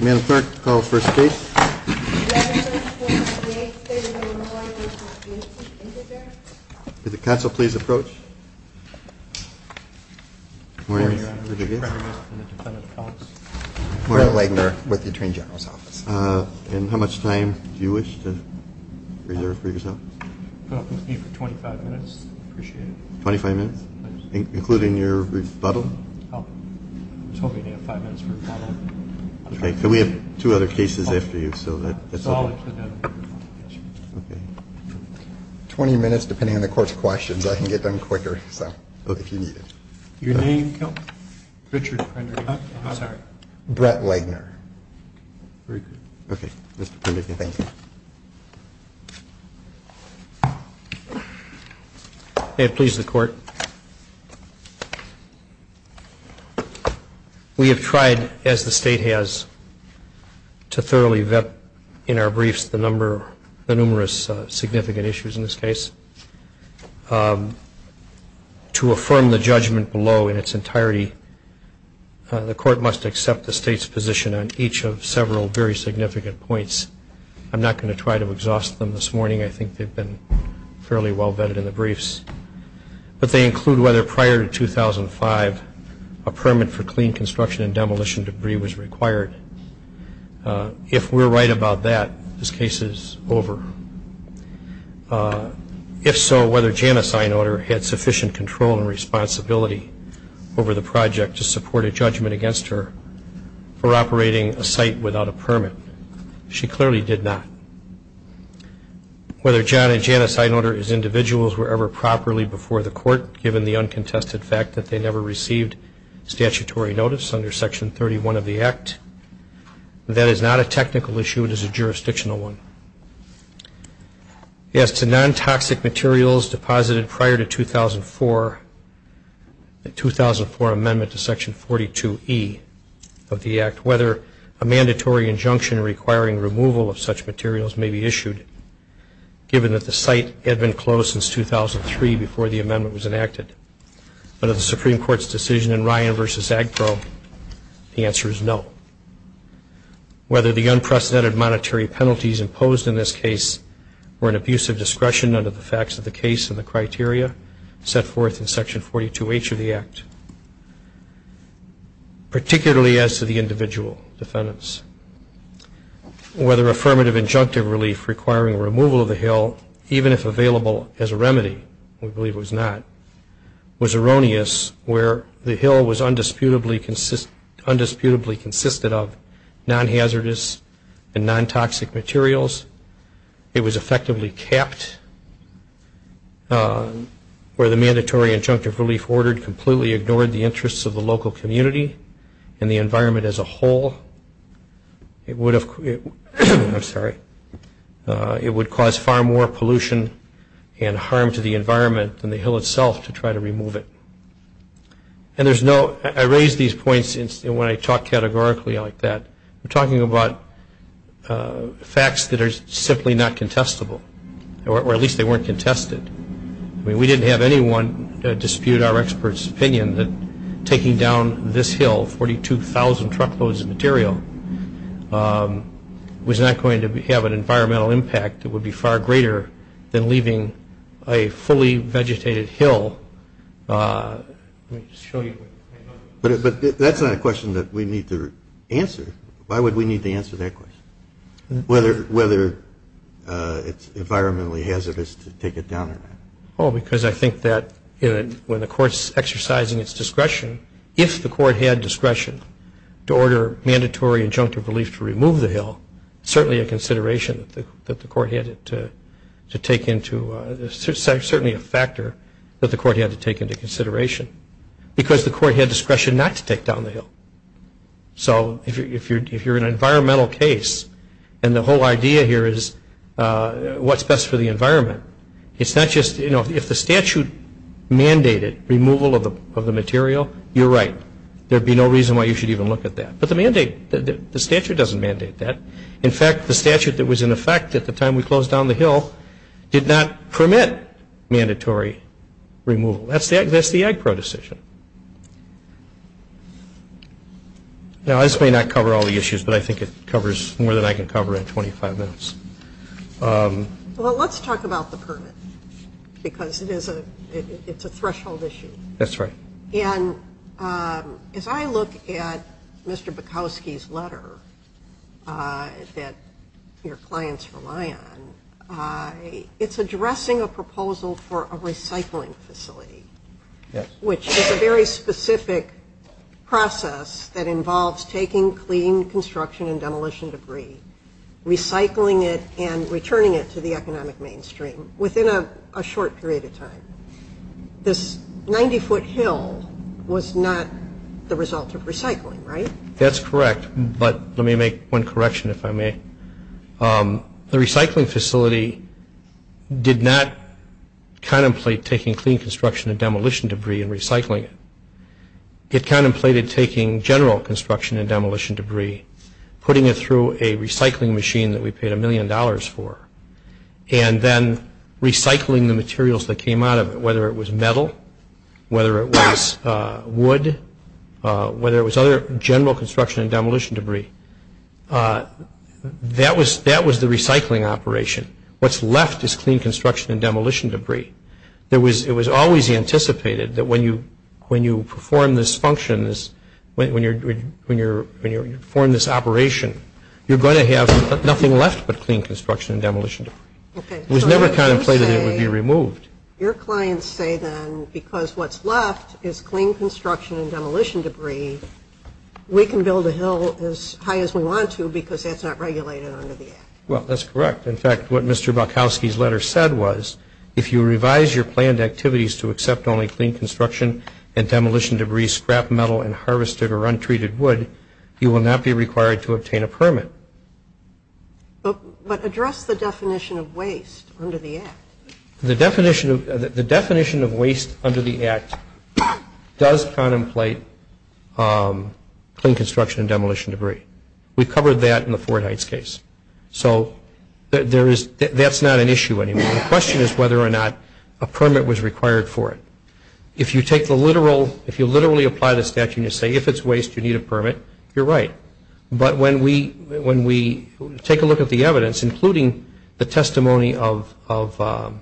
Amanda Clarke, call for a state. Did the council please approach? Good morning, Mr. President and the Defendant of the House. Good morning, Mr. President and the Defendant of the House. And how much time do you wish to reserve for yourself? I'll be with you for 25 minutes. I appreciate it. 25 minutes? Including your rebuttal? I was hoping you'd have five minutes for rebuttal. We have two other cases after you, so that's okay. 20 minutes, depending on the Court's questions. I can get done quicker, so if you need it. Your name? Richard. Brett Wagner. Very good. Okay. Mr. Prime Minister, thank you. May it please the Court. We have tried, as the state has, to thoroughly vet in our briefs the numerous significant issues in this case. To affirm the judgment below in its entirety, the Court must accept the state's position on each of several very significant points. I'm not going to try to exhaust them this morning. I think they've been fairly well vetted in the briefs. But they include whether, prior to 2005, a permit for clean construction and demolition debris was required. If we're right about that, this case is over. If so, whether Janice Inotar had sufficient control and responsibility over the project to support a judgment against her for operating a site without a permit. She clearly did not. Whether John and Janice Inotar as individuals were ever properly before the Court, given the uncontested fact that they never received statutory notice under Section 31 of the Act, that is not a technical issue, it is a jurisdictional one. As to non-toxic materials deposited prior to the 2004 amendment to Section 42E of the Act, whether a mandatory injunction requiring removal of such materials may be issued, given that the site had been closed since 2003 before the amendment was enacted. Under the Supreme Court's decision in Ryan v. Agbro, the answer is no. Whether the unprecedented monetary penalties imposed in this case were an abuse of discretion under the facts of the case and the criteria set forth in Section 42H of the Act, particularly as to the individual defendants. Whether affirmative injunctive relief requiring removal of the hill, even if available as a remedy, we believe it was not, was erroneous, where the hill was undisputably consisted of non-hazardous and non-toxic materials. It was effectively capped, where the mandatory injunctive relief ordered completely ignored the interests of the local community and the environment as a whole. It would have, I'm sorry, it would cause far more pollution and harm to the environment than the hill itself to try to remove it. And there's no, I raise these points when I talk categorically like that. I'm talking about facts that are simply not contestable, or at least they weren't contested. I mean, we didn't have anyone dispute our experts' opinion that taking down this hill, 42,000 truckloads of material, was not going to have an environmental impact. It would be far greater than leaving a fully vegetated hill. Let me just show you. But that's not a question that we need to answer. Why would we need to answer that question, whether it's environmentally hazardous to take it down or not? Oh, because I think that when the court's exercising its discretion, if the court had discretion to order mandatory injunctive relief to remove the hill, certainly a consideration that the court had to take into, certainly a factor that the court had to take into consideration, because the court had discretion not to take down the hill. So if you're an environmental case, and the whole idea here is what's best for the environment, it's not just, you know, if the statute mandated removal of the material, you're right. There'd be no reason why you should even look at that. But the statute doesn't mandate that. In fact, the statute that was in effect at the time we closed down the hill did not permit mandatory removal. That's the Agpro decision. Now, this may not cover all the issues, but I think it covers more than I can cover in 25 minutes. Well, let's talk about the permit, because it's a threshold issue. That's right. And as I look at Mr. Bukowski's letter that your clients rely on, it's addressing a proposal for a recycling facility, which is a very specific process that involves taking clean construction and demolition debris, recycling it, and returning it to the economic mainstream within a short period of time. This 90-foot hill was not the result of recycling, right? That's correct, but let me make one correction, if I may. The recycling facility did not contemplate taking clean construction and demolition debris and recycling it. It contemplated taking general construction and demolition debris, putting it through a recycling machine that we paid a million dollars for, and then recycling the materials that came out of it, whether it was metal, whether it was wood, whether it was other general construction and demolition debris. That was the recycling operation. What's left is clean construction and demolition debris. It was always anticipated that when you perform this function, when you perform this operation, you're going to have nothing left but clean construction and demolition debris. It was never contemplated that it would be removed. Your clients say then, because what's left is clean construction and demolition debris, we can build a hill as high as we want to because that's not regulated under the Act. Well, that's correct. In fact, what Mr. Bukowski's letter said was, if you revise your planned activities to accept only clean construction and demolition debris, scrap metal, and harvested or untreated wood, you will not be required to obtain a permit. But address the definition of waste under the Act. The definition of waste under the Act does contemplate clean construction and demolition debris. We covered that in the Ford Heights case. So that's not an issue anymore. The question is whether or not a permit was required for it. If you literally apply the statute and you say, if it's waste, you need a permit, you're right. But when we take a look at the evidence, including the testimony of Mr.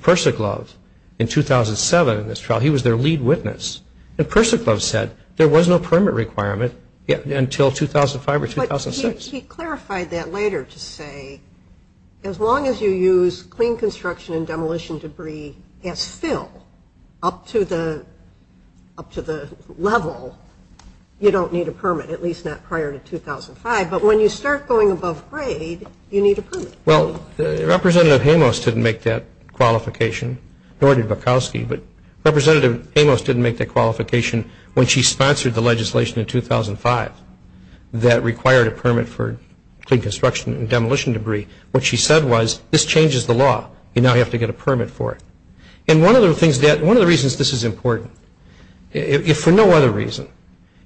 Persiclove in 2007, he was their lead witness. And Persiclove said there was no permit requirement until 2005 or 2006. But he clarified that later to say, as long as you use clean construction and demolition debris as fill up to the level, you don't need a permit, at least not prior to 2005. But when you start going above grade, you need a permit. Well, Representative Amos didn't make that qualification, nor did Bukowski. But Representative Amos didn't make that qualification when she sponsored the legislation in 2005 that required a permit for clean construction and demolition debris. What she said was, this changes the law. You now have to get a permit for it. And one of the reasons this is important, if for no other reason,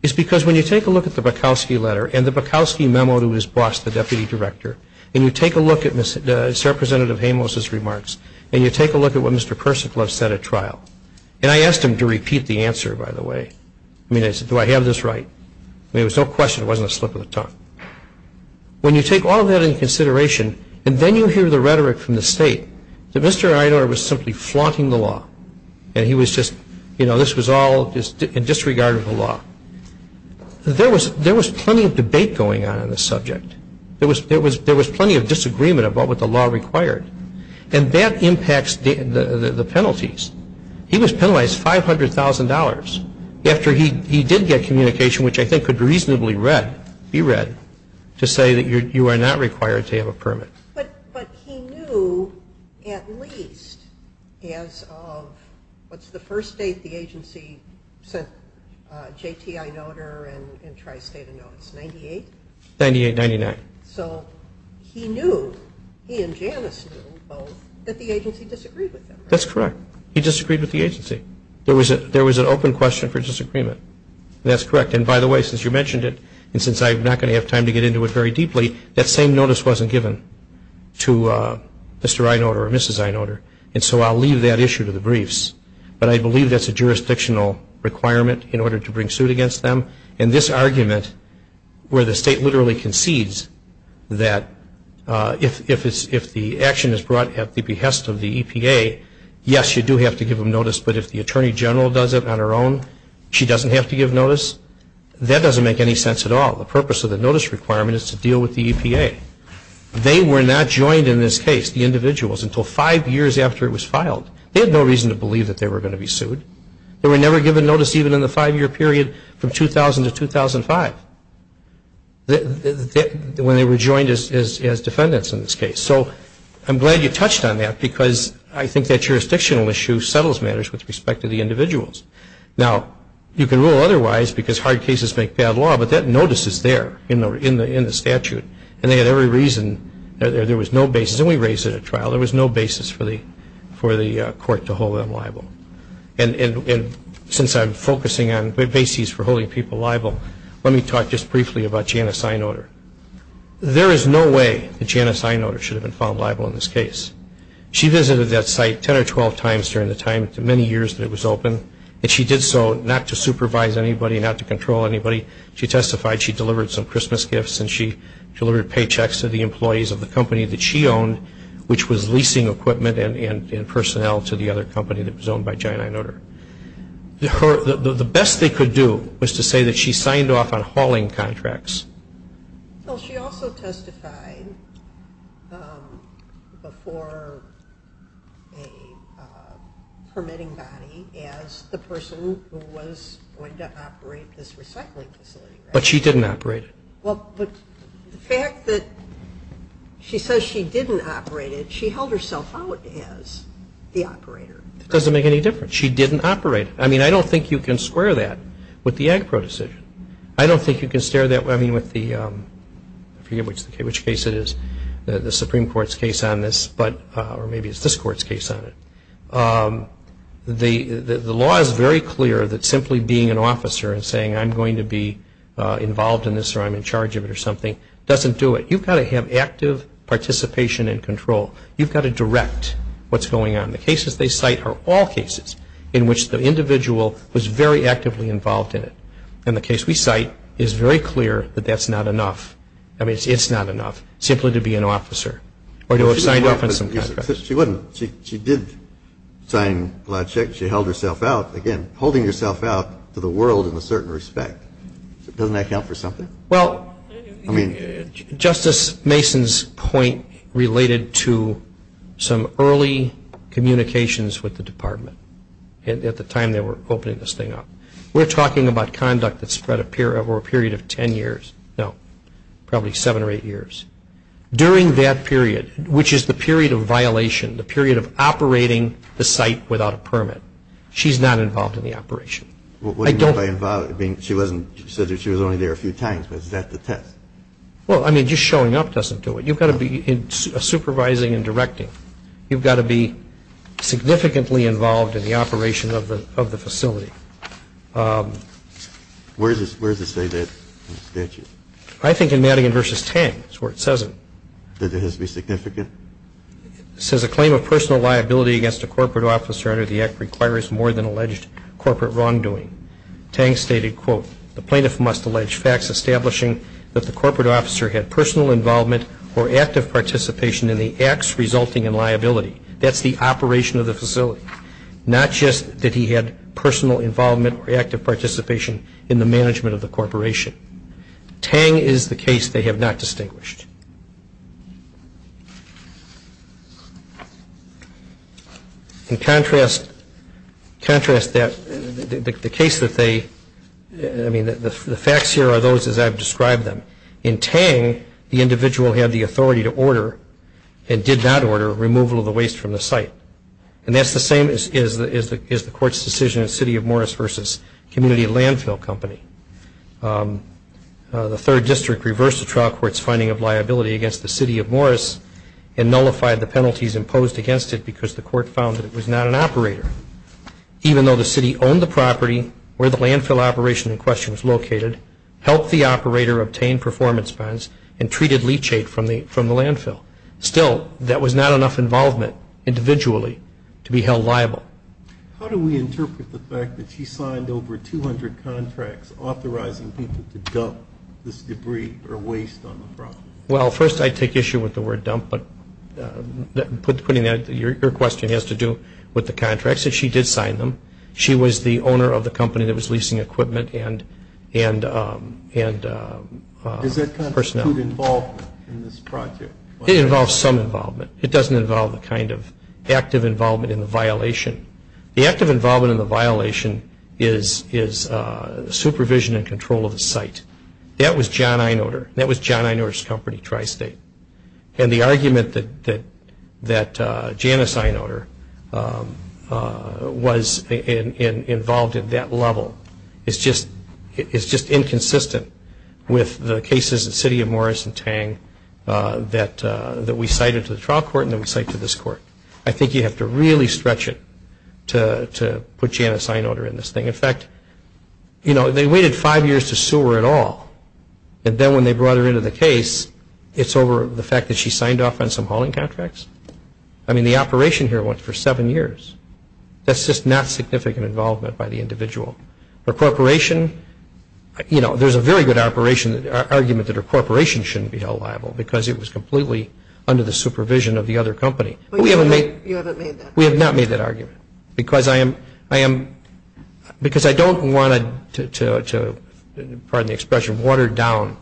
is because when you take a look at the Bukowski letter and the Bukowski memo to his boss, and you take a look at what Mr. Persiclove said at trial, and I asked him to repeat the answer, by the way. I mean, I said, do I have this right? I mean, there was no question it wasn't a slip of the tongue. When you take all that into consideration, and then you hear the rhetoric from the state that Mr. Einor was simply flaunting the law and he was just, you know, this was all in disregard of the law. There was plenty of debate going on in this subject. There was plenty of disagreement about what the law required. And that impacts the penalties. He was penalized $500,000 after he did get communication, which I think could reasonably be read, to say that you are not required to have a permit. But he knew at least as of, what's the first date the agency sent JTI notary and Tri-State a notice, 98? 98, 99. So he knew, he and Janice knew both, that the agency disagreed with him. That's correct. He disagreed with the agency. There was an open question for disagreement. That's correct. And by the way, since you mentioned it, and since I'm not going to have time to get into it very deeply, that same notice wasn't given to Mr. Einor or Mrs. Einor. And so I'll leave that issue to the briefs. But I believe that's a jurisdictional requirement in order to bring suit against them. And this argument where the state literally concedes that if the action is brought at the behest of the EPA, yes, you do have to give them notice, but if the Attorney General does it on her own, she doesn't have to give notice, that doesn't make any sense at all. The purpose of the notice requirement is to deal with the EPA. They were not joined in this case, the individuals, until five years after it was filed. They had no reason to believe that they were going to be sued. They were never given notice even in the five-year period from 2000 to 2005 when they were joined as defendants in this case. So I'm glad you touched on that because I think that jurisdictional issue settles matters with respect to the individuals. Now, you can rule otherwise because hard cases make bad law, but that notice is there in the statute. And they had every reason, there was no basis, and we raised it at trial, there was no basis for the court to hold them liable. And since I'm focusing on the basis for holding people liable, let me talk just briefly about Janice Einoder. There is no way that Janice Einoder should have been found liable in this case. She visited that site 10 or 12 times during the time, many years that it was open, and she did so not to supervise anybody, not to control anybody. She testified she delivered some Christmas gifts and she delivered paychecks to the employees of the company that she owned, which was leasing equipment and personnel to the other company that was owned by Janice Einoder. The best they could do was to say that she signed off on hauling contracts. Well, she also testified before a permitting body as the person who was going to operate this recycling facility. But she didn't operate it. Well, but the fact that she says she didn't operate it, she held herself out as the operator. It doesn't make any difference. She didn't operate it. I mean, I don't think you can square that with the AGPRO decision. I don't think you can stare that way, I mean, with the, I forget which case it is, the Supreme Court's case on this, or maybe it's this Court's case on it. The law is very clear that simply being an officer and saying I'm going to be involved in this or I'm in charge of it or something doesn't do it. You've got to have active participation and control. You've got to direct what's going on. The cases they cite are all cases in which the individual was very actively involved in it. And the case we cite is very clear that that's not enough. I mean, it's not enough simply to be an officer or to have signed off on some contracts. She wouldn't. She did sign a lot of checks. She held herself out, again, holding herself out to the world in a certain respect. Doesn't that count for something? Well, I mean, Justice Mason's point related to some early communications with the department at the time they were opening this thing up. We're talking about conduct that spread over a period of ten years. No, probably seven or eight years. During that period, which is the period of violation, the period of operating the site without a permit, she's not involved in the operation. What do you mean by involved? She said she was only there a few times. Was that the test? Well, I mean, just showing up doesn't do it. You've got to be supervising and directing. You've got to be significantly involved in the operation of the facility. Where does it say that in the statute? I think in Madigan v. Tang is where it says it. Did it have to be significant? It says a claim of personal liability against a corporate officer under the Act requires more than alleged corporate wrongdoing. Tang stated, quote, the plaintiff must allege facts establishing that the corporate officer had personal involvement or active participation in the acts resulting in liability. That's the operation of the facility, not just that he had personal involvement or active participation in the management of the corporation. Tang is the case they have not distinguished. In contrast, the facts here are those as I've described them. In Tang, the individual had the authority to order and did not order removal of the waste from the site. And that's the same as the court's decision in City of Morris v. Community Landfill Company. The third district reversed the trial court's finding of liability against the City of Morris and nullified the penalties imposed against it because the court found that it was not an operator, even though the city owned the property where the landfill operation in question was located, helped the operator obtain performance bonds, and treated leachate from the landfill. Still, that was not enough involvement individually to be held liable. How do we interpret the fact that she signed over 200 contracts authorizing people to dump this debris or waste on the property? Well, first I take issue with the word dump, but your question has to do with the contracts that she did sign them. She was the owner of the company that was leasing equipment and personnel. Does that include involvement in this project? It involves some involvement. It doesn't involve the kind of active involvement in the violation. The active involvement in the violation is supervision and control of the site. That was John Einoder. That was John Einoder's company, Tri-State. And the argument that Janice Einoder was involved at that level is just inconsistent with the cases at City of Morris and Tang that we cited to the trial court and that we cite to this court. I think you have to really stretch it to put Janice Einoder in this thing. In fact, you know, they waited five years to sue her at all, and then when they brought her into the case, it's over the fact that she signed off on some hauling contracts? I mean, the operation here went for seven years. That's just not significant involvement by the individual. Her corporation, you know, there's a very good argument that her corporation shouldn't be held liable because it was completely under the supervision of the other company. But you haven't made that argument. We have not made that argument because I don't want to, pardon the expression, water down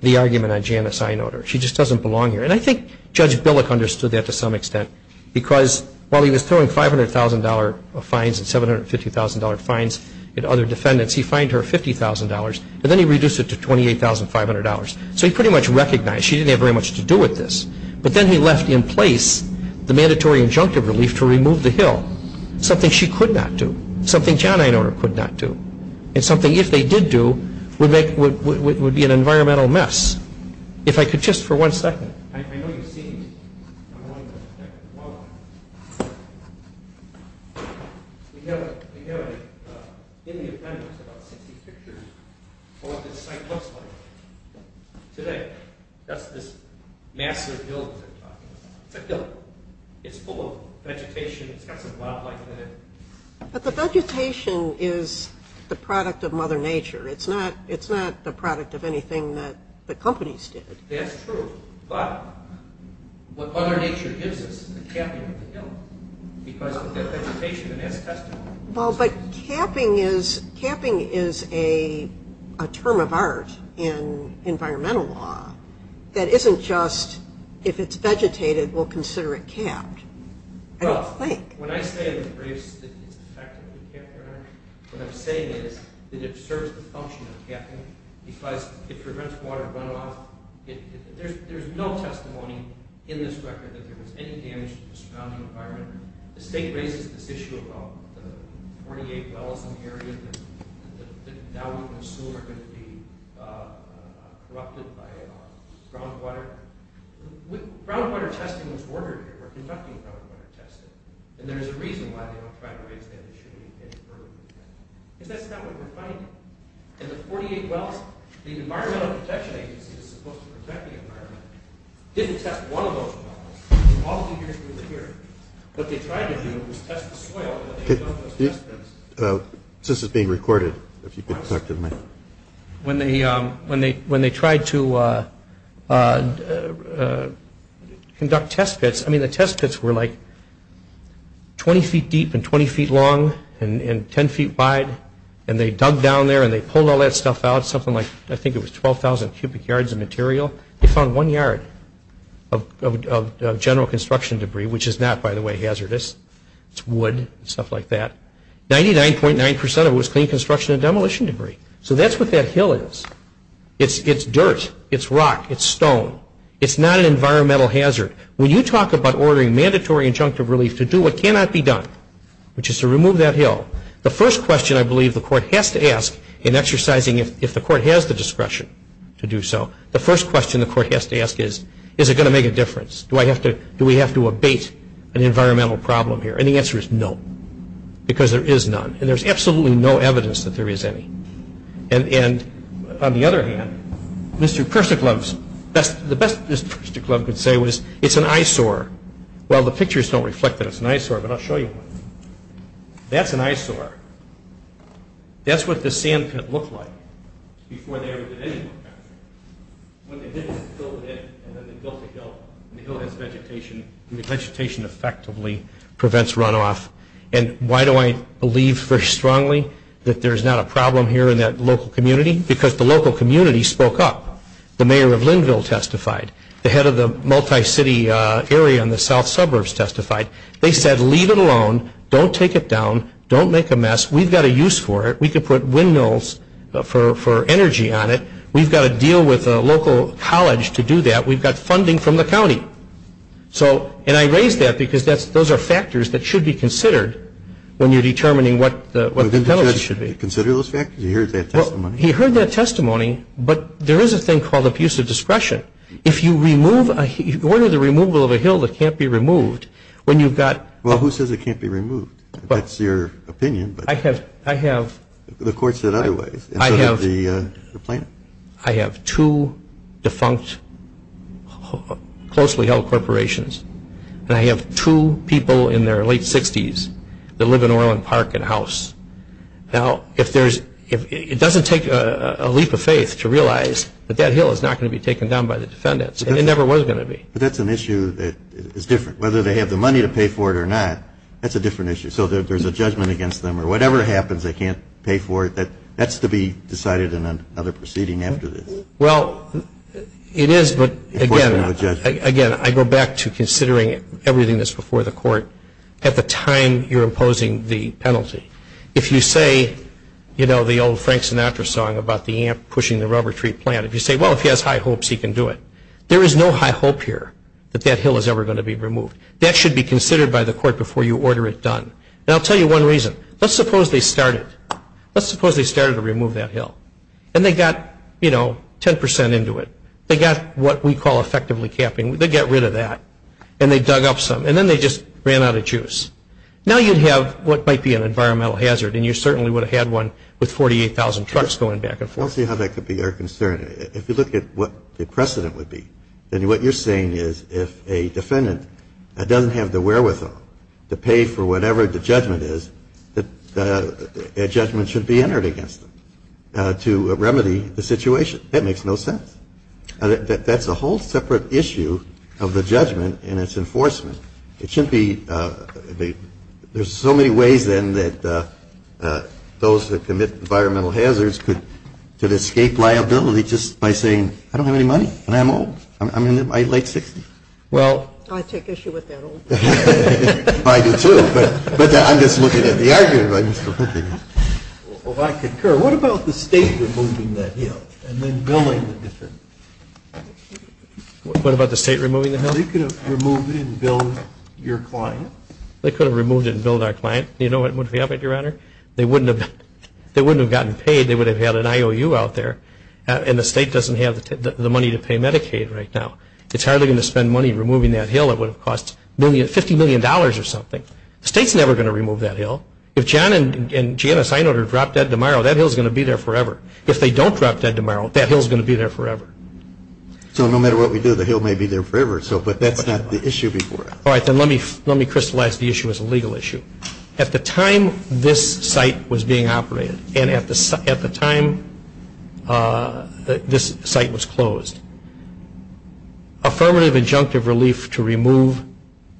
the argument on Janice Einoder. She just doesn't belong here. And I think Judge Billick understood that to some extent because while he was throwing $500,000 of fines and $750,000 fines at other defendants, he fined her $50,000, and then he reduced it to $28,500. So he pretty much recognized she didn't have very much to do with this. But then he left in place the mandatory injunctive relief to remove the hill, something she could not do, something Jan Einoder could not do, and something if they did do would be an environmental mess. If I could just for one second. I know you've seen it. We have in the appendix about 60 pictures of what this site looks like today. That's this massive hill that they're talking about. It's a hill. It's full of vegetation. It's got some wildlife in it. But the vegetation is the product of Mother Nature. It's not the product of anything that the companies did. That's true. But what Mother Nature gives us is the capping of the hill because of the vegetation, and that's testimony. Well, but capping is a term of art in environmental law that isn't just if it's vegetated, we'll consider it capped. I don't think. Well, when I say in the briefs that it's effectively capped, what I'm saying is that it serves the function of capping because it prevents water runoff. There's no testimony in this record that there was any damage to the surrounding environment. The state raises this issue about the 48 wells in the area that now we can assume are going to be corrupted by groundwater. Groundwater testing was ordered here. We're conducting groundwater testing, and there's a reason why they don't try to raise the issue any further than that because that's not what we're finding. In the 48 wells, the Environmental Protection Agency, that's supposed to protect the environment, didn't test one of those wells. All three years it was here. What they tried to do was test the soil that they dug those test pits. This is being recorded, if you could talk to the mic. When they tried to conduct test pits, I mean, the test pits were like 20 feet deep and 20 feet long and 10 feet wide, and they dug down there and they pulled all that stuff out, something like I think it was 12,000 cubic yards of material. They found one yard of general construction debris, which is not, by the way, hazardous. It's wood and stuff like that. 99.9% of it was clean construction and demolition debris. So that's what that hill is. It's dirt. It's rock. It's stone. It's not an environmental hazard. When you talk about ordering mandatory injunctive relief to do what cannot be done, which is to remove that hill, the first question I believe the court has to ask in exercising, if the court has the discretion to do so, the first question the court has to ask is, is it going to make a difference? Do we have to abate an environmental problem here? And the answer is no, because there is none. And there's absolutely no evidence that there is any. And on the other hand, Mr. Kerstiglub, the best Mr. Kerstiglub could say was, it's an eyesore. Well, the pictures don't reflect that it's an eyesore, but I'll show you one. That's an eyesore. That's what the sand pit looked like before they ever did any work on it. When they did this, they filled it in, and then they built a hill, and the hill has vegetation, and the vegetation effectively prevents runoff. And why do I believe very strongly that there's not a problem here in that local community? Because the local community spoke up. The mayor of Lynnville testified. The head of the multi-city area in the south suburbs testified. They said, leave it alone, don't take it down, don't make a mess. We've got a use for it. We could put windmills for energy on it. We've got to deal with a local college to do that. We've got funding from the county. And I raise that because those are factors that should be considered when you're determining what the penalty should be. Did the judge consider those factors? He heard that testimony. He heard that testimony, but there is a thing called abusive discretion. If you order the removal of a hill that can't be removed, when you've got – Well, who says it can't be removed? That's your opinion, but the court said otherwise. I have two defunct closely held corporations, and I have two people in their late 60s that live in Orland Park and House. Now, it doesn't take a leap of faith to realize that that hill is not going to be taken down by the defendants, and it never was going to be. But that's an issue that is different. Whether they have the money to pay for it or not, that's a different issue. So there's a judgment against them, or whatever happens, they can't pay for it. That's to be decided in another proceeding after this. Well, it is, but again, I go back to considering everything that's before the court at the time you're imposing the penalty. If you say, you know, the old Frank Sinatra song about the ant pushing the rubber tree plant. If you say, well, if he has high hopes, he can do it. There is no high hope here that that hill is ever going to be removed. That should be considered by the court before you order it done. And I'll tell you one reason. Let's suppose they started. Let's suppose they started to remove that hill, and they got, you know, 10% into it. They got what we call effectively capping. They got rid of that, and they dug up some, and then they just ran out of juice. Now you'd have what might be an environmental hazard, and you certainly would have had one with 48,000 trucks going back and forth. I don't see how that could be our concern. If you look at what the precedent would be, then what you're saying is if a defendant doesn't have the wherewithal to pay for whatever the judgment is, a judgment should be entered against them to remedy the situation. That makes no sense. That's a whole separate issue of the judgment and its enforcement. It shouldn't be. There's so many ways, then, that those that commit environmental hazards could escape liability just by saying, I don't have any money, and I'm old. I'm in my late 60s. Well, I take issue with that old. I do, too. But I'm just looking at the argument. Well, I concur. What about the state removing that hill and then billing the district? What about the state removing the hill? Well, they could have removed it and billed your client. They could have removed it and billed our client. You know what would have happened, Your Honor? They wouldn't have gotten paid. They would have had an IOU out there, and the state doesn't have the money to pay Medicaid right now. It's hardly going to spend money removing that hill. It would have cost $50 million or something. The state's never going to remove that hill. If John and Janice Einholder drop dead tomorrow, that hill's going to be there forever. If they don't drop dead tomorrow, that hill's going to be there forever. So no matter what we do, the hill may be there forever. But that's not the issue before us. All right. Then let me crystallize the issue as a legal issue. At the time this site was being operated and at the time this site was closed, affirmative injunctive relief to remove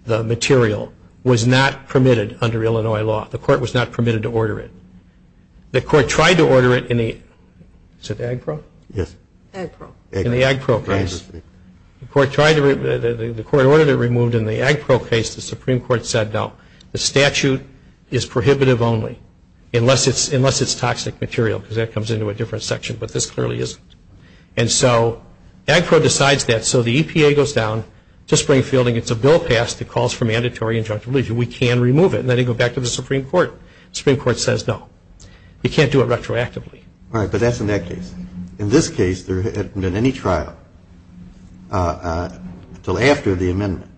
the material was not permitted under Illinois law. The court was not permitted to order it. The court tried to order it in the – is it Agpro? Yes. Agpro. In the Agpro case. The court tried to – the court ordered it removed. In the Agpro case, the Supreme Court said no. The statute is prohibitive only unless it's toxic material, because that comes into a different section, but this clearly isn't. And so Agpro decides that. So the EPA goes down to Springfield and gets a bill passed that calls for mandatory injunctive relief. We can remove it. And then they go back to the Supreme Court. The Supreme Court says no. You can't do it retroactively. Right, but that's in that case. In this case, there hadn't been any trial until after the amendment.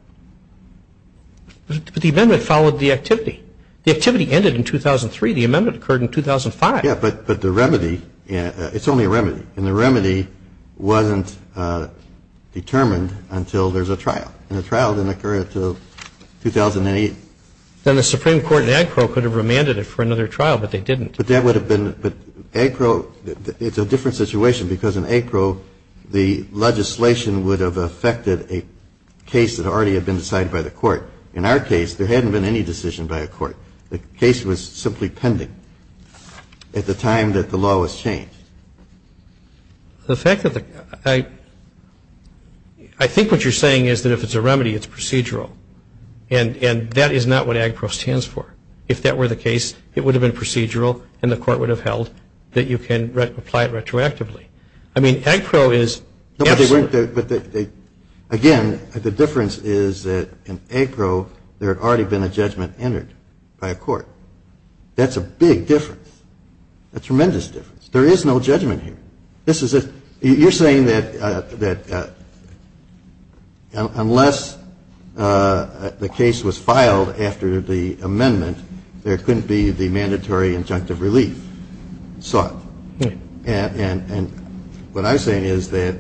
But the amendment followed the activity. The activity ended in 2003. The amendment occurred in 2005. Yeah, but the remedy – it's only a remedy. And the remedy wasn't determined until there's a trial. And the trial didn't occur until 2008. Then the Supreme Court and Agpro could have remanded it for another trial, but they didn't. But that would have been – but Agpro – it's a different situation because in Agpro, the legislation would have affected a case that already had been decided by the court. In our case, there hadn't been any decision by a court. The case was simply pending at the time that the law was changed. The fact that the – I think what you're saying is that if it's a remedy, it's procedural. And that is not what Agpro stands for. If that were the case, it would have been procedural, and the court would have held that you can apply it retroactively. I mean, Agpro is – No, but they weren't – again, the difference is that in Agpro, there had already been a judgment entered by a court. That's a big difference, a tremendous difference. There is no judgment here. You're saying that unless the case was filed after the amendment, there couldn't be the mandatory injunctive relief sought. And what I'm saying is that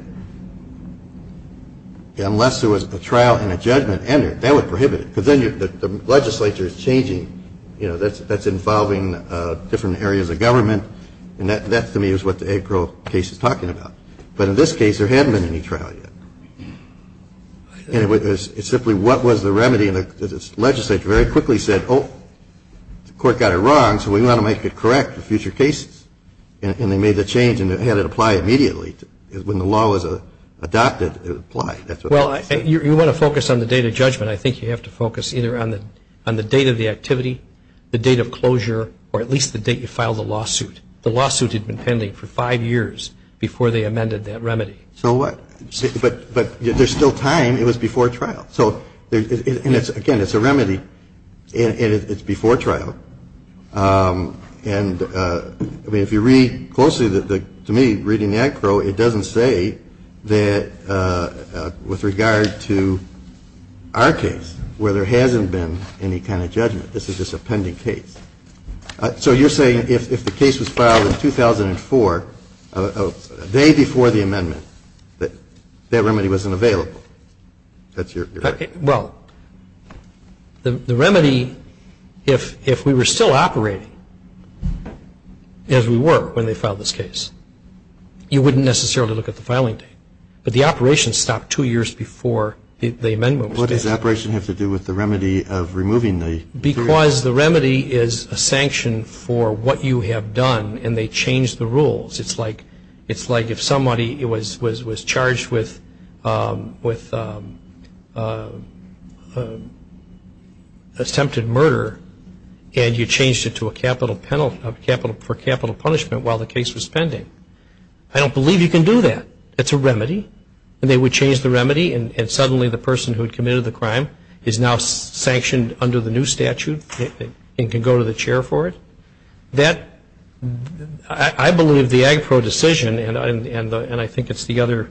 unless there was a trial and a judgment entered, that would prohibit it. Because then the legislature is changing. You know, that's involving different areas of government. And that, to me, is what the Agpro case is talking about. But in this case, there hadn't been any trial yet. It's simply what was the remedy. And the legislature very quickly said, oh, the court got it wrong, so we want to make it correct for future cases. And they made the change and had it apply immediately. When the law was adopted, it applied. Well, you want to focus on the date of judgment. I think you have to focus either on the date of the activity, the date of closure, or at least the date you filed the lawsuit. The lawsuit had been pending for five years before they amended that remedy. So what? But there's still time. It was before trial. So, again, it's a remedy, and it's before trial. And, I mean, if you read closely, to me, reading the Agpro, it doesn't say that with regard to our case where there hasn't been any kind of judgment. This is just a pending case. So you're saying if the case was filed in 2004, a day before the amendment, that that remedy wasn't available? That's your argument? Well, the remedy, if we were still operating as we were when they filed this case, you wouldn't necessarily look at the filing date. But the operation stopped two years before the amendment was passed. What does the operation have to do with the remedy of removing the material? Because the remedy is a sanction for what you have done, and they changed the rules. It's like if somebody was charged with attempted murder, and you changed it for capital punishment while the case was pending. I don't believe you can do that. It's a remedy. And they would change the remedy, and suddenly the person who had committed the crime is now sanctioned under the new statute and can go to the chair for it. I believe the Agpro decision, and I think it's the other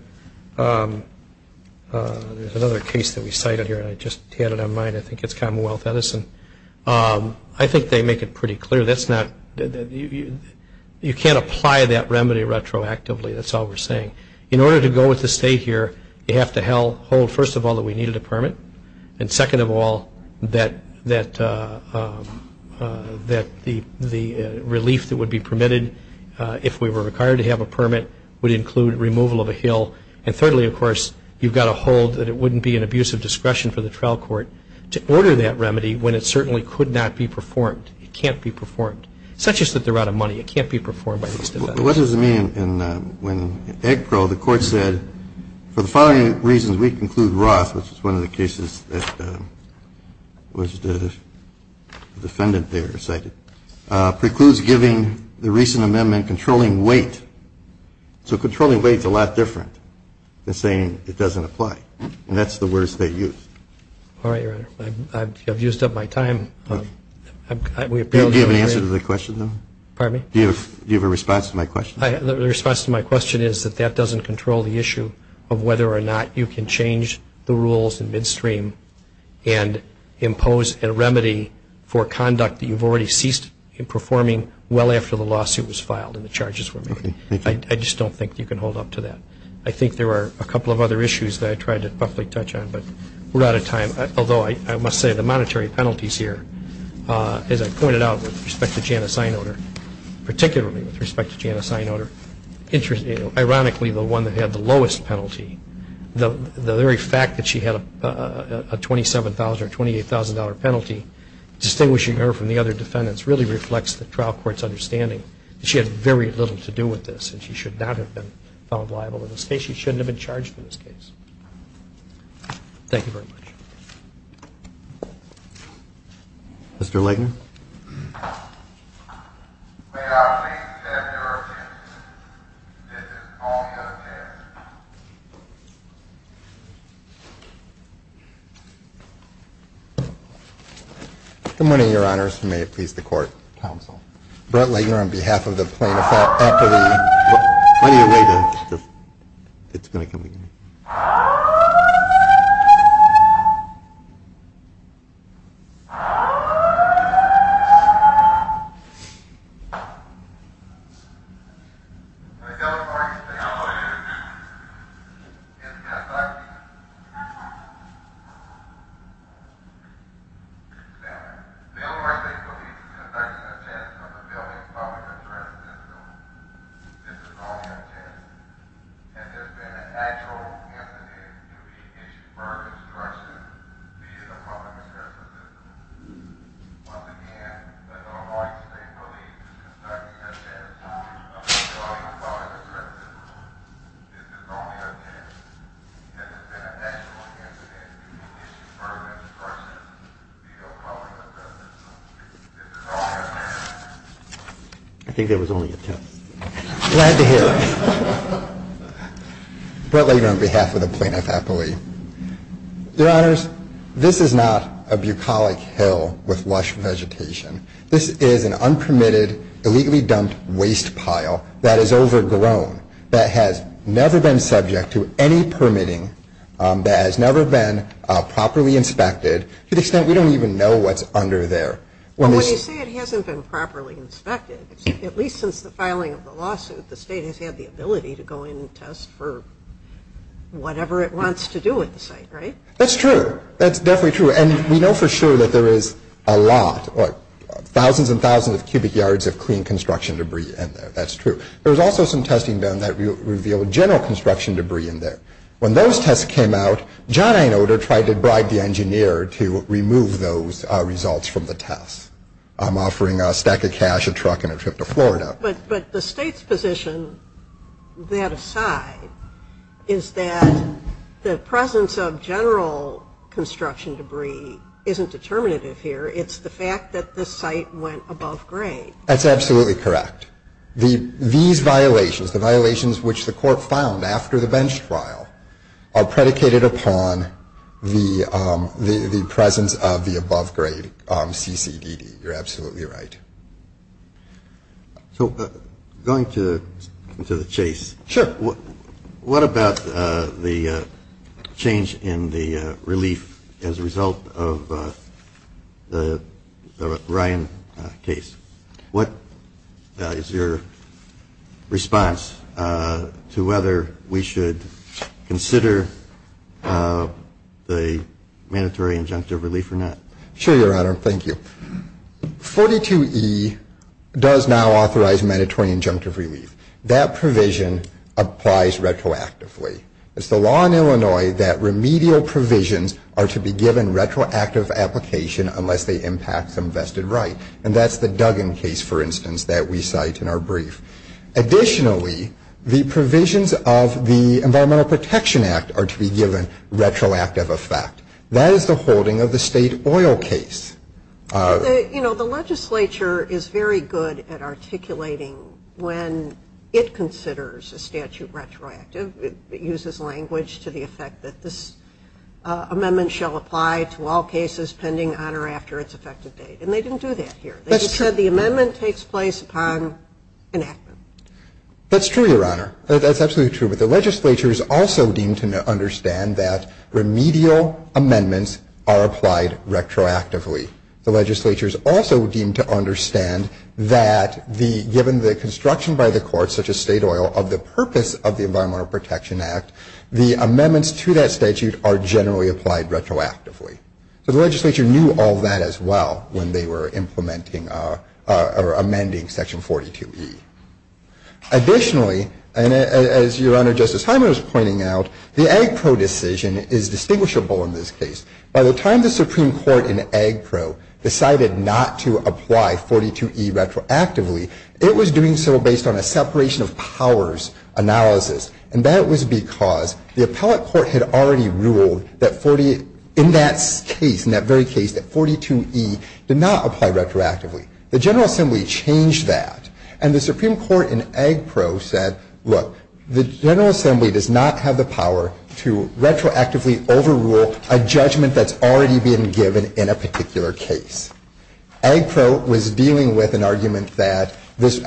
case that we cited here, and I just had it on mind, I think it's Commonwealth Edison. I think they make it pretty clear that you can't apply that remedy retroactively. That's all we're saying. In order to go with the state here, you have to hold, first of all, that we needed a permit, and second of all, that the relief that would be permitted if we were required to have a permit would include removal of a hill. And thirdly, of course, you've got to hold that it wouldn't be an abuse of discretion for the trial court to order that remedy when it certainly could not be performed. It can't be performed. It's not just that they're out of money. It can't be performed by these defendants. What does it mean when Agpro, the court said, for the following reasons, we conclude Roth, which is one of the cases that the defendant there cited, precludes giving the recent amendment controlling weight. So controlling weight is a lot different than saying it doesn't apply. And that's the words they used. All right, Your Honor. I've used up my time. Do you have an answer to the question, though? Pardon me? Do you have a response to my question? The response to my question is that that doesn't control the issue of whether or not you can change the rules in midstream and impose a remedy for conduct that you've already ceased performing well after the lawsuit was filed and the charges were made. I just don't think you can hold up to that. I think there are a couple of other issues that I tried to roughly touch on, but we're out of time. Although I must say the monetary penalties here, as I pointed out with respect to Janice Einoder, particularly with respect to Janice Einoder, ironically the one that had the lowest penalty, the very fact that she had a $27,000 or $28,000 penalty, distinguishing her from the other defendants really reflects the trial court's understanding that she had very little to do with this and she should not have been found liable in this case. She shouldn't have been charged in this case. Thank you very much. Mr. Legner. Good morning, Your Honors, and may it please the Court. Counsel. Mr. Legner, on behalf of the plaintiff. When are you waiting? It's going to come again. This is only a test. Has there been an actual incident to be issued for instruction via the public assessment system? Once again, does the Hawaii State Police conduct such tests? This is only a test. Has there been an actual incident to be issued for instruction via the public assessment system? This is only a test. I think there was only a test. Glad to hear it. Mr. Legner, on behalf of the plaintiff, I believe. Your Honors, this is not a bucolic hill with lush vegetation. This is an unpermitted, illegally dumped waste pile that is overgrown, that has never been subject to any permitting, that has never been properly inspected to the extent we don't even know what's under there. When you say it hasn't been properly inspected, at least since the filing of the lawsuit, the state has had the ability to go in and test for whatever it wants to do with the site, right? That's true. That's definitely true. And we know for sure that there is a lot, thousands and thousands of cubic yards of clean construction debris in there. That's true. There was also some testing done that revealed general construction debris in there. When those tests came out, John A. Noder tried to bribe the engineer to remove those results from the test. I'm offering a stack of cash, a truck, and a trip to Florida. But the state's position, that aside, is that the presence of general construction debris isn't determinative here. It's the fact that the site went above grade. That's absolutely correct. These violations, the violations which the court found after the bench trial, are predicated upon the presence of the above grade CCDD. You're absolutely right. So going to the chase. Sure. What about the change in the relief as a result of the Ryan case? What is your response to whether we should consider the mandatory injunctive relief or not? Sure, Your Honor. Thank you. 42E does now authorize mandatory injunctive relief. That provision applies retroactively. It's the law in Illinois that remedial provisions are to be given retroactive application unless they impact some vested right. And that's the Duggan case, for instance, that we cite in our brief. Additionally, the provisions of the Environmental Protection Act are to be given retroactive effect. That is the holding of the state oil case. You know, the legislature is very good at articulating when it considers a statute retroactive. It uses language to the effect that this amendment shall apply to all cases pending on or after its effective date. And they didn't do that here. That's true. They just said the amendment takes place upon enactment. That's true, Your Honor. That's absolutely true. But the legislature is also deemed to understand that remedial amendments are applied retroactively. The legislature is also deemed to understand that given the construction by the court, such as state oil, of the purpose of the Environmental Protection Act, the amendments to that statute are generally applied retroactively. So the legislature knew all that as well when they were implementing or amending Section 42E. Additionally, and as Your Honor, Justice Hyman was pointing out, the AGPRO decision is distinguishable in this case. By the time the Supreme Court in AGPRO decided not to apply 42E retroactively, it was doing so based on a separation of powers analysis. And that was because the appellate court had already ruled that in that case, in that very case, that 42E did not apply retroactively. The General Assembly changed that. And the Supreme Court in AGPRO said, look, the General Assembly does not have the power to retroactively overrule a judgment that's already been given in a particular case. AGPRO was dealing with an argument that this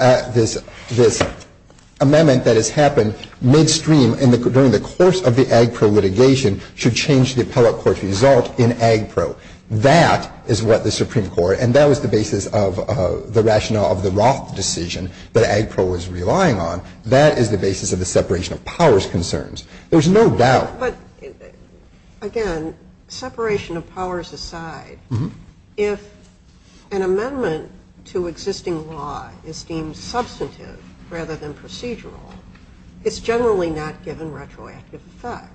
amendment that has happened midstream during the course of the AGPRO litigation should change the appellate court's result in AGPRO. That is what the Supreme Court, and that was the basis of the rationale of the Roth decision that AGPRO was relying on. That is the basis of the separation of powers concerns. There's no doubt. But, again, separation of powers aside, if an amendment to existing law is deemed substantive rather than procedural, it's generally not given retroactive effect.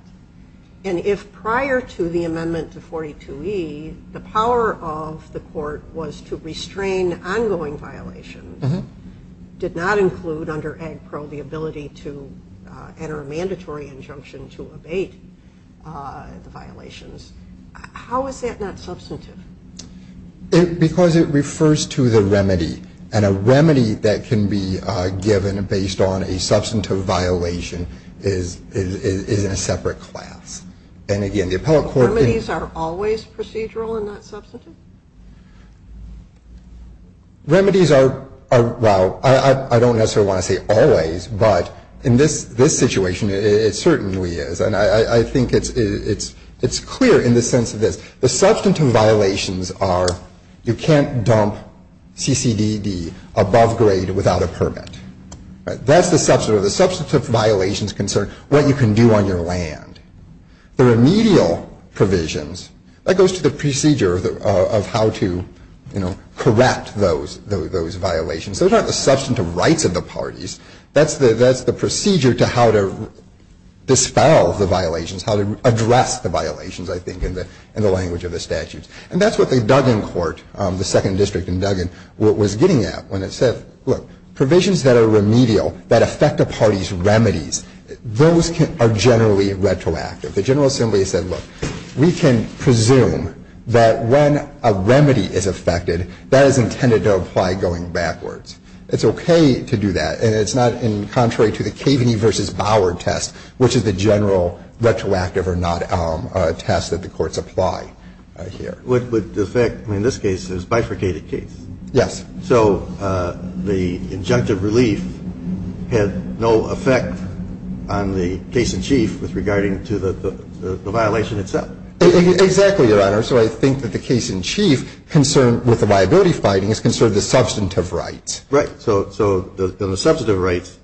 And if prior to the amendment to 42E, the power of the court was to restrain ongoing violations, did not include under AGPRO the ability to enter a mandatory injunction to abate the violations, how is that not substantive? Because it refers to the remedy. And a remedy that can be given based on a substantive violation is in a separate class. And, again, the appellate court can Remedies are always procedural and not substantive? Remedies are, well, I don't necessarily want to say always, but in this situation it certainly is. And I think it's clear in the sense of this. The substantive violations are you can't dump CCDD above grade without a permit. That's the substantive. So the substantive violations concern what you can do on your land. The remedial provisions, that goes to the procedure of how to, you know, correct those violations. Those aren't the substantive rights of the parties. That's the procedure to how to dispel the violations, how to address the violations, I think, in the language of the statutes. And that's what the Duggan court, the second district in Duggan, was getting at when it said, look, provisions that are remedial, that affect a party's remedies, those are generally retroactive. The General Assembly said, look, we can presume that when a remedy is affected, that is intended to apply going backwards. It's okay to do that. And it's not in contrary to the Kaveny v. Bower test, which is the general retroactive or not test that the courts apply here. But the effect in this case is bifurcated case. Yes. So the injunctive relief had no effect on the case-in-chief with regarding to the violation itself. Exactly, Your Honor. So I think that the case-in-chief concerned with the liability finding is concerned with the substantive rights. Right. So the substantive rights,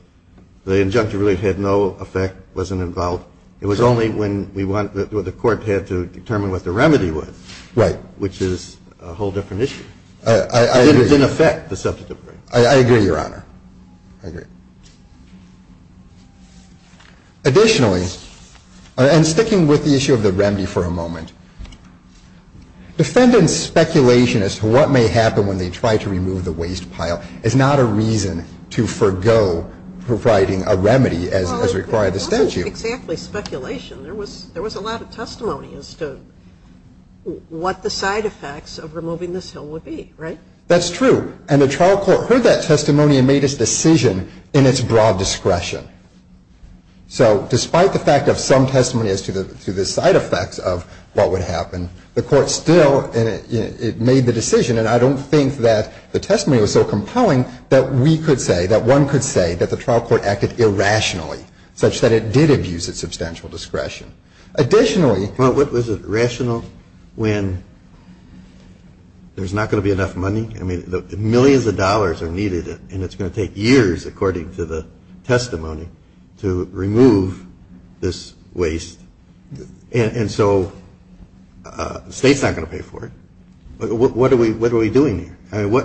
the injunctive relief had no effect, wasn't involved. It was only when we want the court had to determine what the remedy was. Right. Which is a whole different issue. I agree. It didn't affect the substantive rights. I agree, Your Honor. I agree. Additionally, and sticking with the issue of the remedy for a moment, defendant's speculation as to what may happen when they try to remove the waste pile is not a reason to forgo providing a remedy as required in the statute. Well, it wasn't exactly speculation. There was a lot of testimony as to what the side effects of removing this hill would be, right? That's true. And the trial court heard that testimony and made its decision in its broad discretion. So despite the fact of some testimony as to the side effects of what would happen, the court still made the decision, and I don't think that the testimony was so compelling that we could say, that one could say that the trial court acted irrationally such that it did abuse its substantial discretion. Additionally. Well, what was it, rational when there's not going to be enough money? I mean, millions of dollars are needed, and it's going to take years, according to the testimony, to remove this waste. And so the State's not going to pay for it. What are we doing here? I mean,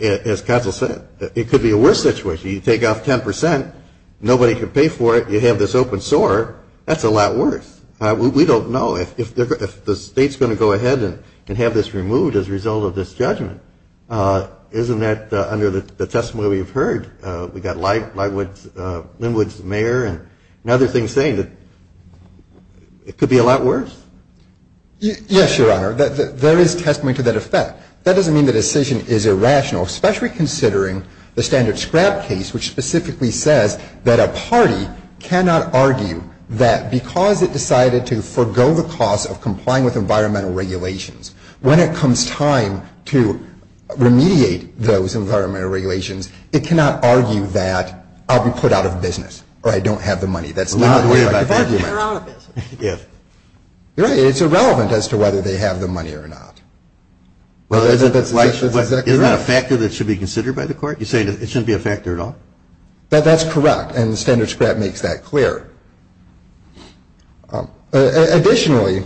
as counsel said, it could be a worse situation. If you take off 10 percent, nobody can pay for it, you have this open sore, that's a lot worse. We don't know if the State's going to go ahead and have this removed as a result of this judgment. Isn't that, under the testimony we've heard, we've got Linwood's mayor and other things saying that it could be a lot worse? Yes, Your Honor. There is testimony to that effect. That doesn't mean the decision is irrational, especially considering the standard scrap case, which specifically says that a party cannot argue that because it decided to forgo the cost of complying with environmental regulations, when it comes time to remediate those environmental regulations, it cannot argue that I'll be put out of business or I don't have the money. That's not the way to argue that. If. It's irrelevant as to whether they have the money or not. Isn't that a factor that should be considered by the Court? You're saying it shouldn't be a factor at all? That's correct. And the standard scrap makes that clear. Additionally,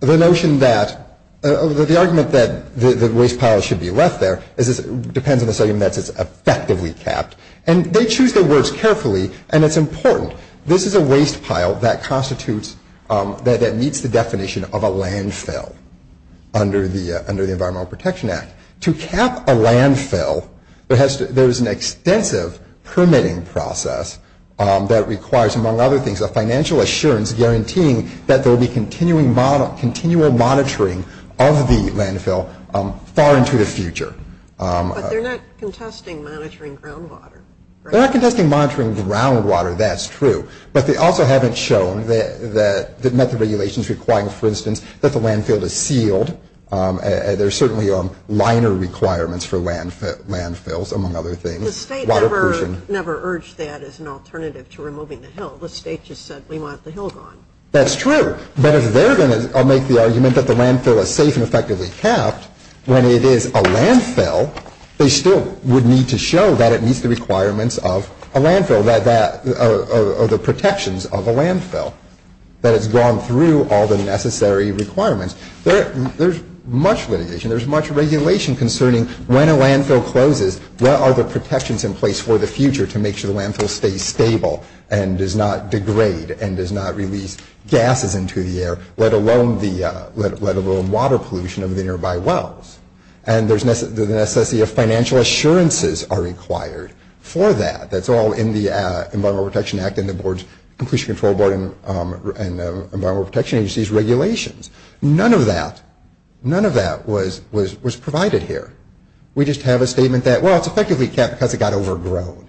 the notion that, the argument that the waste pile should be left there depends on the subject matter that it's effectively capped. And they choose their words carefully, and it's important. This is a waste pile that constitutes, that meets the definition of a landfill under the Environmental Protection Act. To cap a landfill, there's an extensive permitting process that requires, among other things, a financial assurance guaranteeing that there will be continual monitoring of the landfill far into the future. But they're not contesting monitoring groundwater, right? They're not contesting monitoring groundwater. That's true. But they also haven't shown that the method of regulation is requiring, for instance, that the landfill is sealed. There's certainly liner requirements for landfills, among other things. Water pollution. The State never urged that as an alternative to removing the hill. The State just said, we want the hill gone. That's true. But if they're going to make the argument that the landfill is safe and effectively capped, when it is a landfill, they still would need to show that it meets the requirements of a landfill, or the protections of a landfill, that it's gone through all the necessary requirements. There's much litigation. There's much regulation concerning when a landfill closes, what are the protections in place for the future to make sure the landfill stays stable and does not degrade and does not release gases into the air, let alone water pollution of the nearby wells. And there's the necessity of financial assurances are required for that. That's all in the Environmental Protection Act and the Board's, regulations. None of that, none of that was provided here. We just have a statement that, well, it's effectively capped because it got overgrown.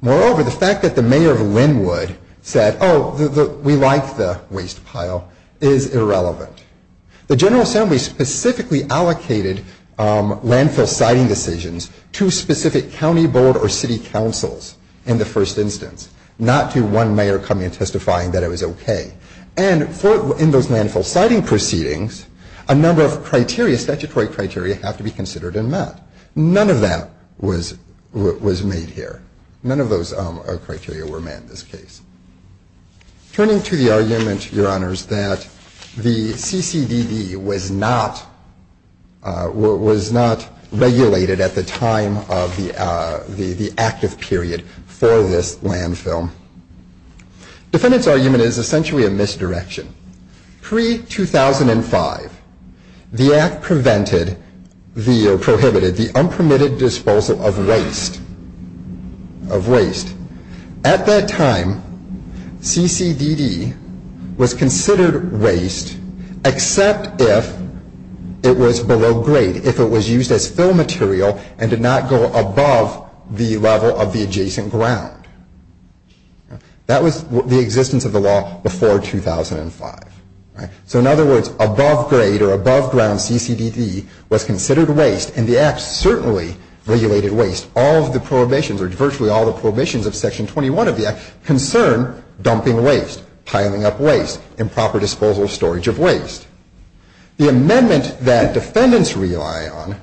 Moreover, the fact that the mayor of Linwood said, oh, we like the waste pile, is irrelevant. The General Assembly specifically allocated landfill siting decisions to specific county board or city councils in the first instance, not to one mayor coming and testifying that it was okay. And in those landfill siting proceedings, a number of criteria, statutory criteria, have to be considered and met. None of that was made here. None of those criteria were met in this case. Turning to the argument, Your Honors, that the CCDD was not regulated at the time of the active period for this landfill. Defendant's argument is essentially a misdirection. Pre-2005, the Act prevented, or prohibited, the unpermitted disposal of waste, of waste. At that time, CCDD was considered waste except if it was below grade, if it was used as fill That was the existence of the law before 2005. So in other words, above grade or above ground CCDD was considered waste, and the Act certainly regulated waste. All of the prohibitions, or virtually all of the prohibitions of Section 21 of the Act, concern dumping waste, piling up waste, improper disposal of storage of waste. The amendment that defendants rely on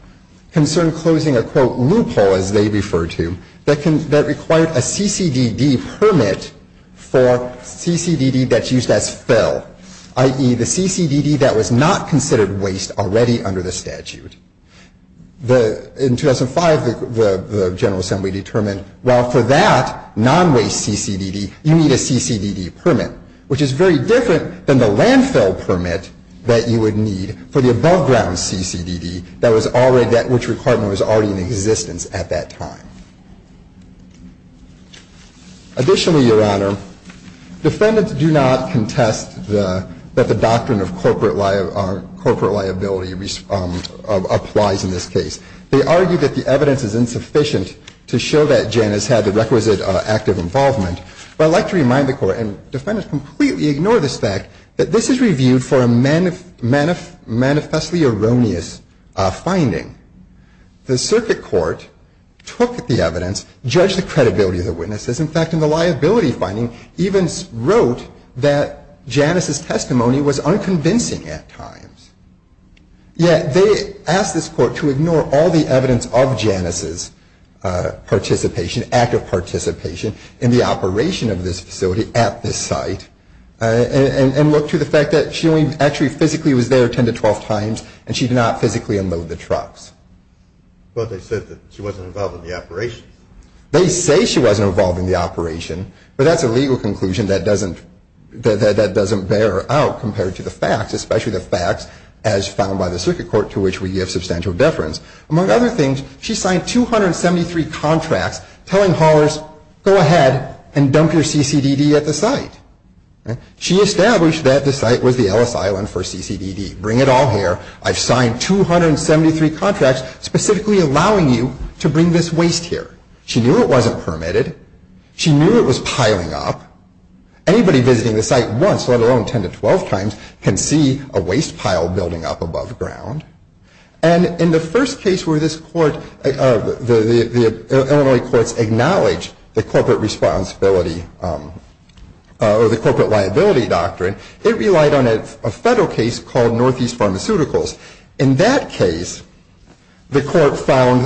concern closing a, quote, loophole, as they refer to, that required a CCDD permit for CCDD that's used as fill, i.e., the CCDD that was not considered waste already under the statute. In 2005, the General Assembly determined, well, for that non-waste CCDD, you need a CCDD permit, which is very different than the landfill permit that you would need for the above ground CCDD that was already, which requirement was already in existence at that time. Additionally, Your Honor, defendants do not contest that the doctrine of corporate liability applies in this case. They argue that the evidence is insufficient to show that Jan has had the requisite active involvement. But I'd like to remind the Court, and defendants completely ignore this fact, that this is reviewed for a manifestly erroneous finding. The Circuit Court took the evidence, judged the credibility of the witnesses. In fact, in the liability finding, even wrote that Janice's testimony was unconvincing at times. Yet they asked this Court to ignore all the evidence of Janice's participation, active physically was there 10 to 12 times, and she did not physically unload the trucks. Well, they said that she wasn't involved in the operation. They say she wasn't involved in the operation, but that's a legal conclusion that doesn't bear out compared to the facts, especially the facts as found by the Circuit Court, to which we give substantial deference. Among other things, she signed 273 contracts telling haulers, go ahead and dump your CCDD at the site. She established that the site was the Ellis Island for CCDD. Bring it all here. I've signed 273 contracts specifically allowing you to bring this waste here. She knew it wasn't permitted. She knew it was piling up. Anybody visiting the site once, let alone 10 to 12 times, can see a waste pile building up above ground. And in the first case where this Court, the Illinois Courts acknowledge the corporate liability doctrine, it relied on a federal case called Northeast Pharmaceuticals. In that case, the Court found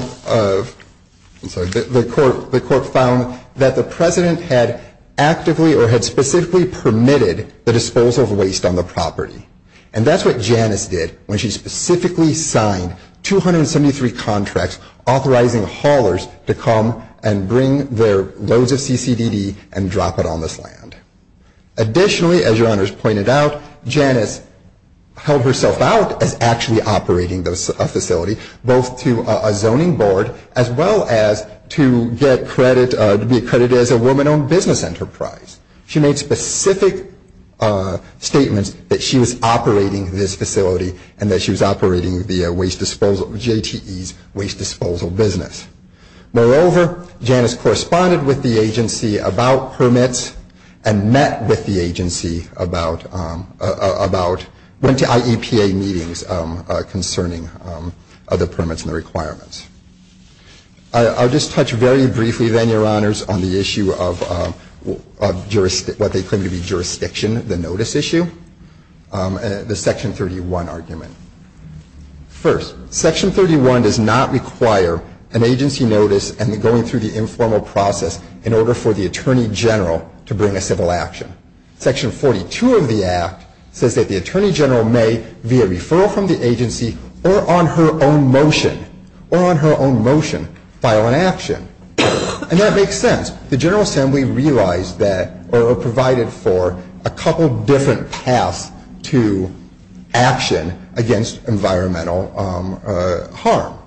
that the President had actively or had specifically permitted the disposal of waste on the property. And that's what Janice did when she specifically signed 273 contracts authorizing haulers to come and bring their loads of CCDD and drop it on this land. Additionally, as your honors pointed out, Janice held herself out as actually operating a facility, both to a zoning board as well as to get credit, to be accredited as a woman-owned business enterprise. She made specific statements that she was operating this facility and that she was operating the waste disposal, JTE's waste disposal business. Moreover, Janice corresponded with the agency about permits and met with the agency about, went to IEPA meetings concerning other permits and the requirements. I'll just touch very briefly then, your honors, on the issue of what they claim to be jurisdiction, the notice issue, the Section 31 argument. First, Section 31 does not require an agency notice and going through the informal process in order for the Attorney General to bring a civil action. Section 42 of the Act says that the Attorney General may, via referral from the agency or on her own motion, or on her own motion, file an action. And that makes sense. The General Assembly realized that or provided for a couple different paths to action against environmental harm.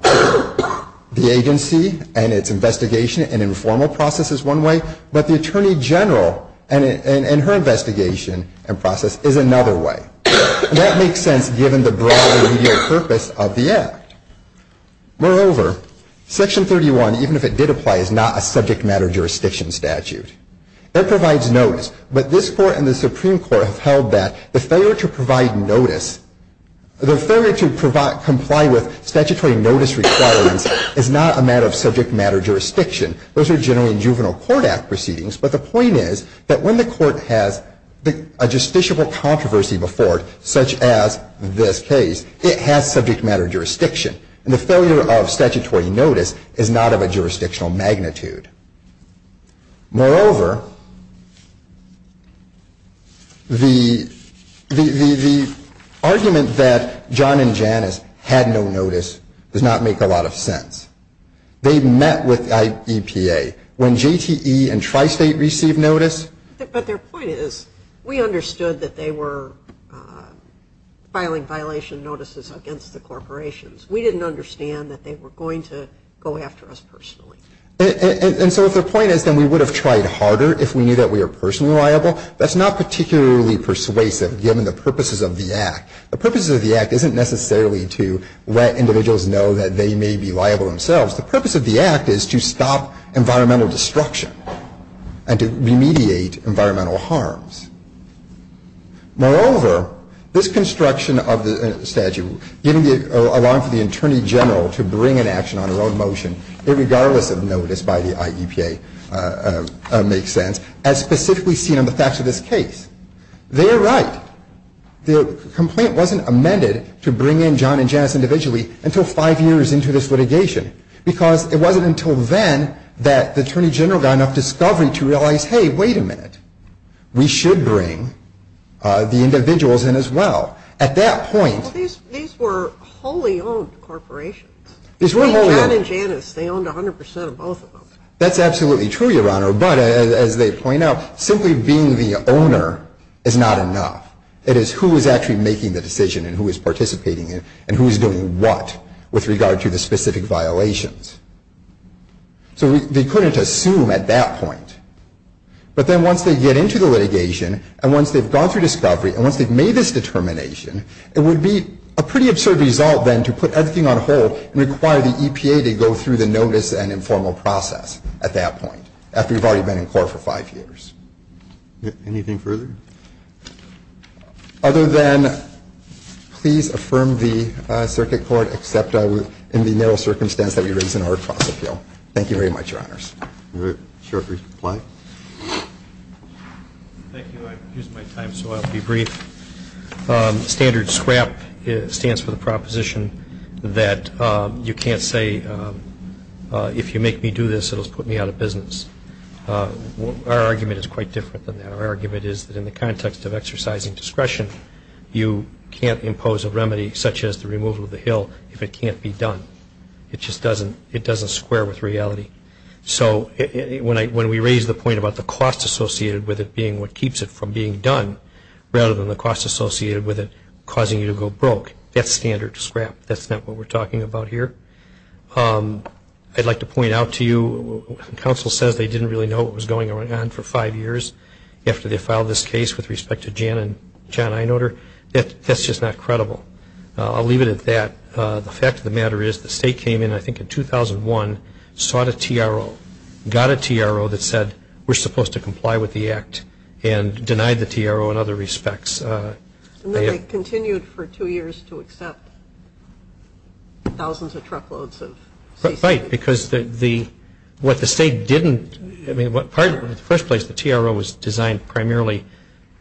The agency and its investigation and informal process is one way, but the Attorney General and her investigation and process is another way. And that makes sense given the broad, remedial purpose of the Act. Moreover, Section 31, even if it did apply, is not a subject matter jurisdiction statute. It provides notice, but this Court and the Supreme Court have held that the failure to provide notice, the failure to comply with statutory notice requirements is not a matter of subject matter jurisdiction. Those are generally in Juvenile Court Act proceedings, but the point is that when the Court has a justiciable controversy before it, such as this case, it has subject matter jurisdiction. And the failure of statutory notice is not of a jurisdictional magnitude. Moreover, the argument that John and Janice had no notice does not make a lot of sense. They met with the EPA. When JTE and Tri-State received notice. But their point is, we understood that they were filing violation notices against the corporations. We didn't understand that they were going to go after us personally. And so if their point is that we would have tried harder if we knew that we were personally liable, that's not particularly persuasive given the purposes of the Act. The purposes of the Act isn't necessarily to let individuals know that they may be liable themselves. The purpose of the Act is to stop environmental destruction and to remediate environmental harms. Moreover, this construction of the statute, allowing for the Attorney General to bring an action on her own motion, irregardless of notice by the IEPA, makes sense, as specifically seen on the facts of this case. They are right. The complaint wasn't amended to bring in John and Janice individually until five years into this litigation, because it wasn't until then that the Attorney General got enough discovery to realize, hey, wait a minute, we should bring the individuals in as well. At that point. Well, these were wholly owned corporations. These were wholly owned. John and Janice, they owned 100 percent of both of them. That's absolutely true, Your Honor. But as they point out, simply being the owner is not enough. It is who is actually making the decision and who is participating in it and who is doing what with regard to the specific violations. So they couldn't assume at that point. But then once they get into the litigation and once they've gone through discovery and once they've made this determination, it would be a pretty absurd result then to put everything on hold and require the EPA to go through the notice and informal process at that point, after you've already been in court for five years. Anything further? Other than please affirm the circuit court, except in the narrow circumstance that we raise in our cross-appeal. Thank you very much, Your Honors. Any other short reply? Thank you. I've used my time, so I'll be brief. Standard SCRAP stands for the proposition that you can't say, if you make me do this, it will put me out of business. Our argument is quite different than that. Our argument is that in the context of exercising discretion, you can't impose a remedy such as the removal of the hill if it can't be done. It just doesn't square with reality. So when we raise the point about the cost associated with it being what keeps it from being done, rather than the cost associated with it causing you to go broke, that's standard SCRAP. That's not what we're talking about here. I'd like to point out to you, counsel says they didn't really know what was going on for five years after they filed this case with respect to Jan and John Einoder. That's just not credible. I'll leave it at that. The fact of the matter is the state came in, I think in 2001, sought a TRO, got a TRO that said we're supposed to comply with the act, and denied the TRO in other respects. And then they continued for two years to accept thousands of truckloads of CCD. Right, because what the state didn't, I mean, in the first place, the TRO was designed primarily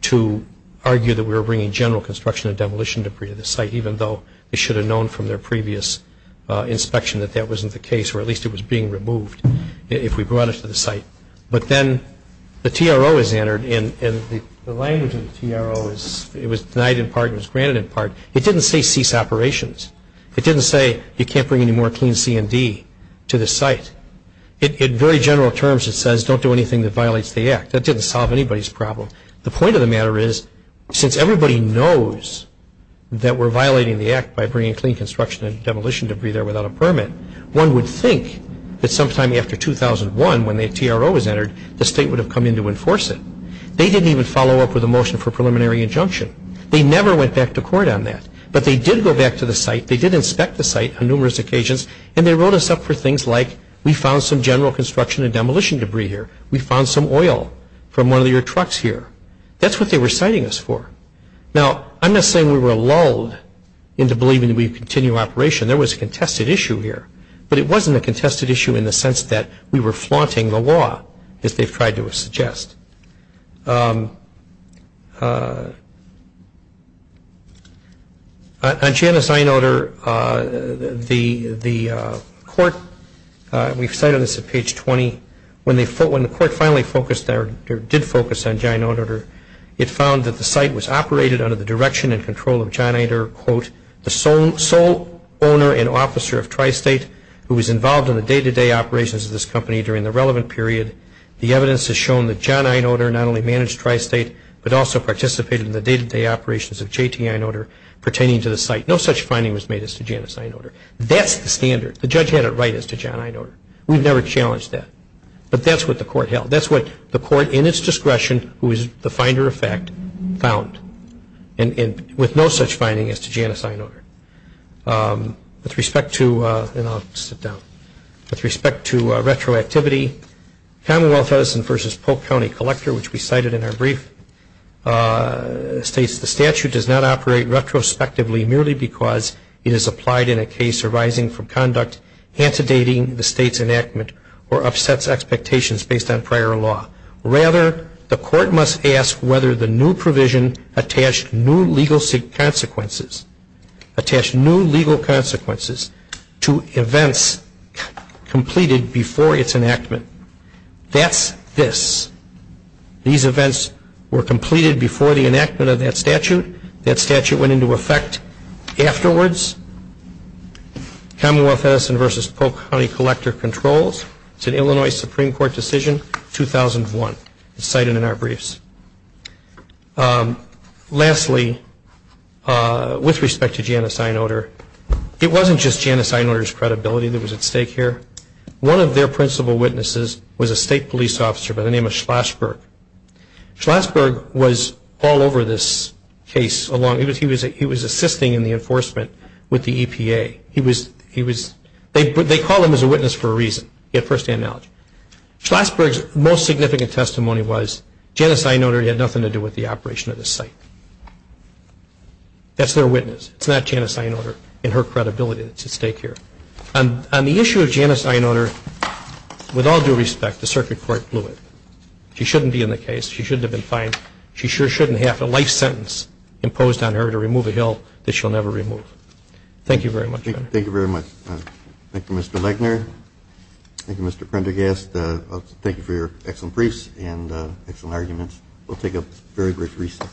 to argue that we were bringing general construction and demolition debris to the site, even though they should have known from their previous inspection that that wasn't the case, or at least it was being removed if we brought it to the site. But then the TRO was entered, and the language of the TRO was denied in part and was granted in part. It didn't say cease operations. It didn't say you can't bring any more clean C&D to the site. In very general terms, it says don't do anything that violates the act. That didn't solve anybody's problem. The point of the matter is, since everybody knows that we're violating the act by bringing clean construction and demolition debris there without a permit, one would think that sometime after 2001, when the TRO was entered, the state would have come in to enforce it. They didn't even follow up with a motion for preliminary injunction. They never went back to court on that. But they did go back to the site. They did inspect the site on numerous occasions, and they wrote us up for things like, we found some general construction and demolition debris here. We found some oil from one of your trucks here. That's what they were citing us for. Now, I'm not saying we were lulled into believing that we would continue operation. There was a contested issue here. But it wasn't a contested issue in the sense that we were flaunting the law, as they've tried to suggest. On Janus I-Notor, the court, we've cited this at page 20, when the court finally focused, or did focus on Janus I-Notor, it found that the site was operated under the direction and control of John Eder, quote, the sole owner and officer of Tri-State, who was involved in the day-to-day operations of this company during the relevant period. The evidence has shown that John I-Notor, not only managed Tri-State, but also participated in the day-to-day operations of JTI-Notor pertaining to the site. No such finding was made as to Janus I-Notor. That's the standard. The judge had it right as to John I-Notor. We've never challenged that. But that's what the court held. That's what the court, in its discretion, who is the finder of fact, found, with no such finding as to Janus I-Notor. With respect to, and I'll sit down, with respect to retroactivity, Commonwealth Edison v. Polk County Collector, which we cited in our brief, states the statute does not operate retrospectively merely because it is applied in a case arising from conduct antedating the state's enactment or upsets expectations based on prior law. Rather, the court must ask whether the new provision attached new legal consequences, attached new legal consequences to events completed before its enactment. That's this. These events were completed before the enactment of that statute. That statute went into effect afterwards. Commonwealth Edison v. Polk County Collector controls. It's an Illinois Supreme Court decision, 2001. It's cited in our briefs. Lastly, with respect to Janus I-Notor, it wasn't just Janus I-Notor's credibility that was at stake here. One of their principal witnesses was a state police officer by the name of Schlashberg. Schlashberg was all over this case. He was assisting in the enforcement with the EPA. They called him as a witness for a reason. He had first-hand knowledge. Schlashberg's most significant testimony was Janus I-Notor had nothing to do with the operation of the site. That's their witness. It's not Janus I-Notor and her credibility that's at stake here. On the issue of Janus I-Notor, with all due respect, the circuit court blew it. She shouldn't be in the case. She shouldn't have been fined. She sure shouldn't have a life sentence imposed on her to remove a hill that she'll never remove. Thank you very much. Thank you very much. Thank you, Mr. Legner. Thank you, Mr. Prendergast. Thank you for your excellent briefs and excellent arguments. We'll take a very brief recess.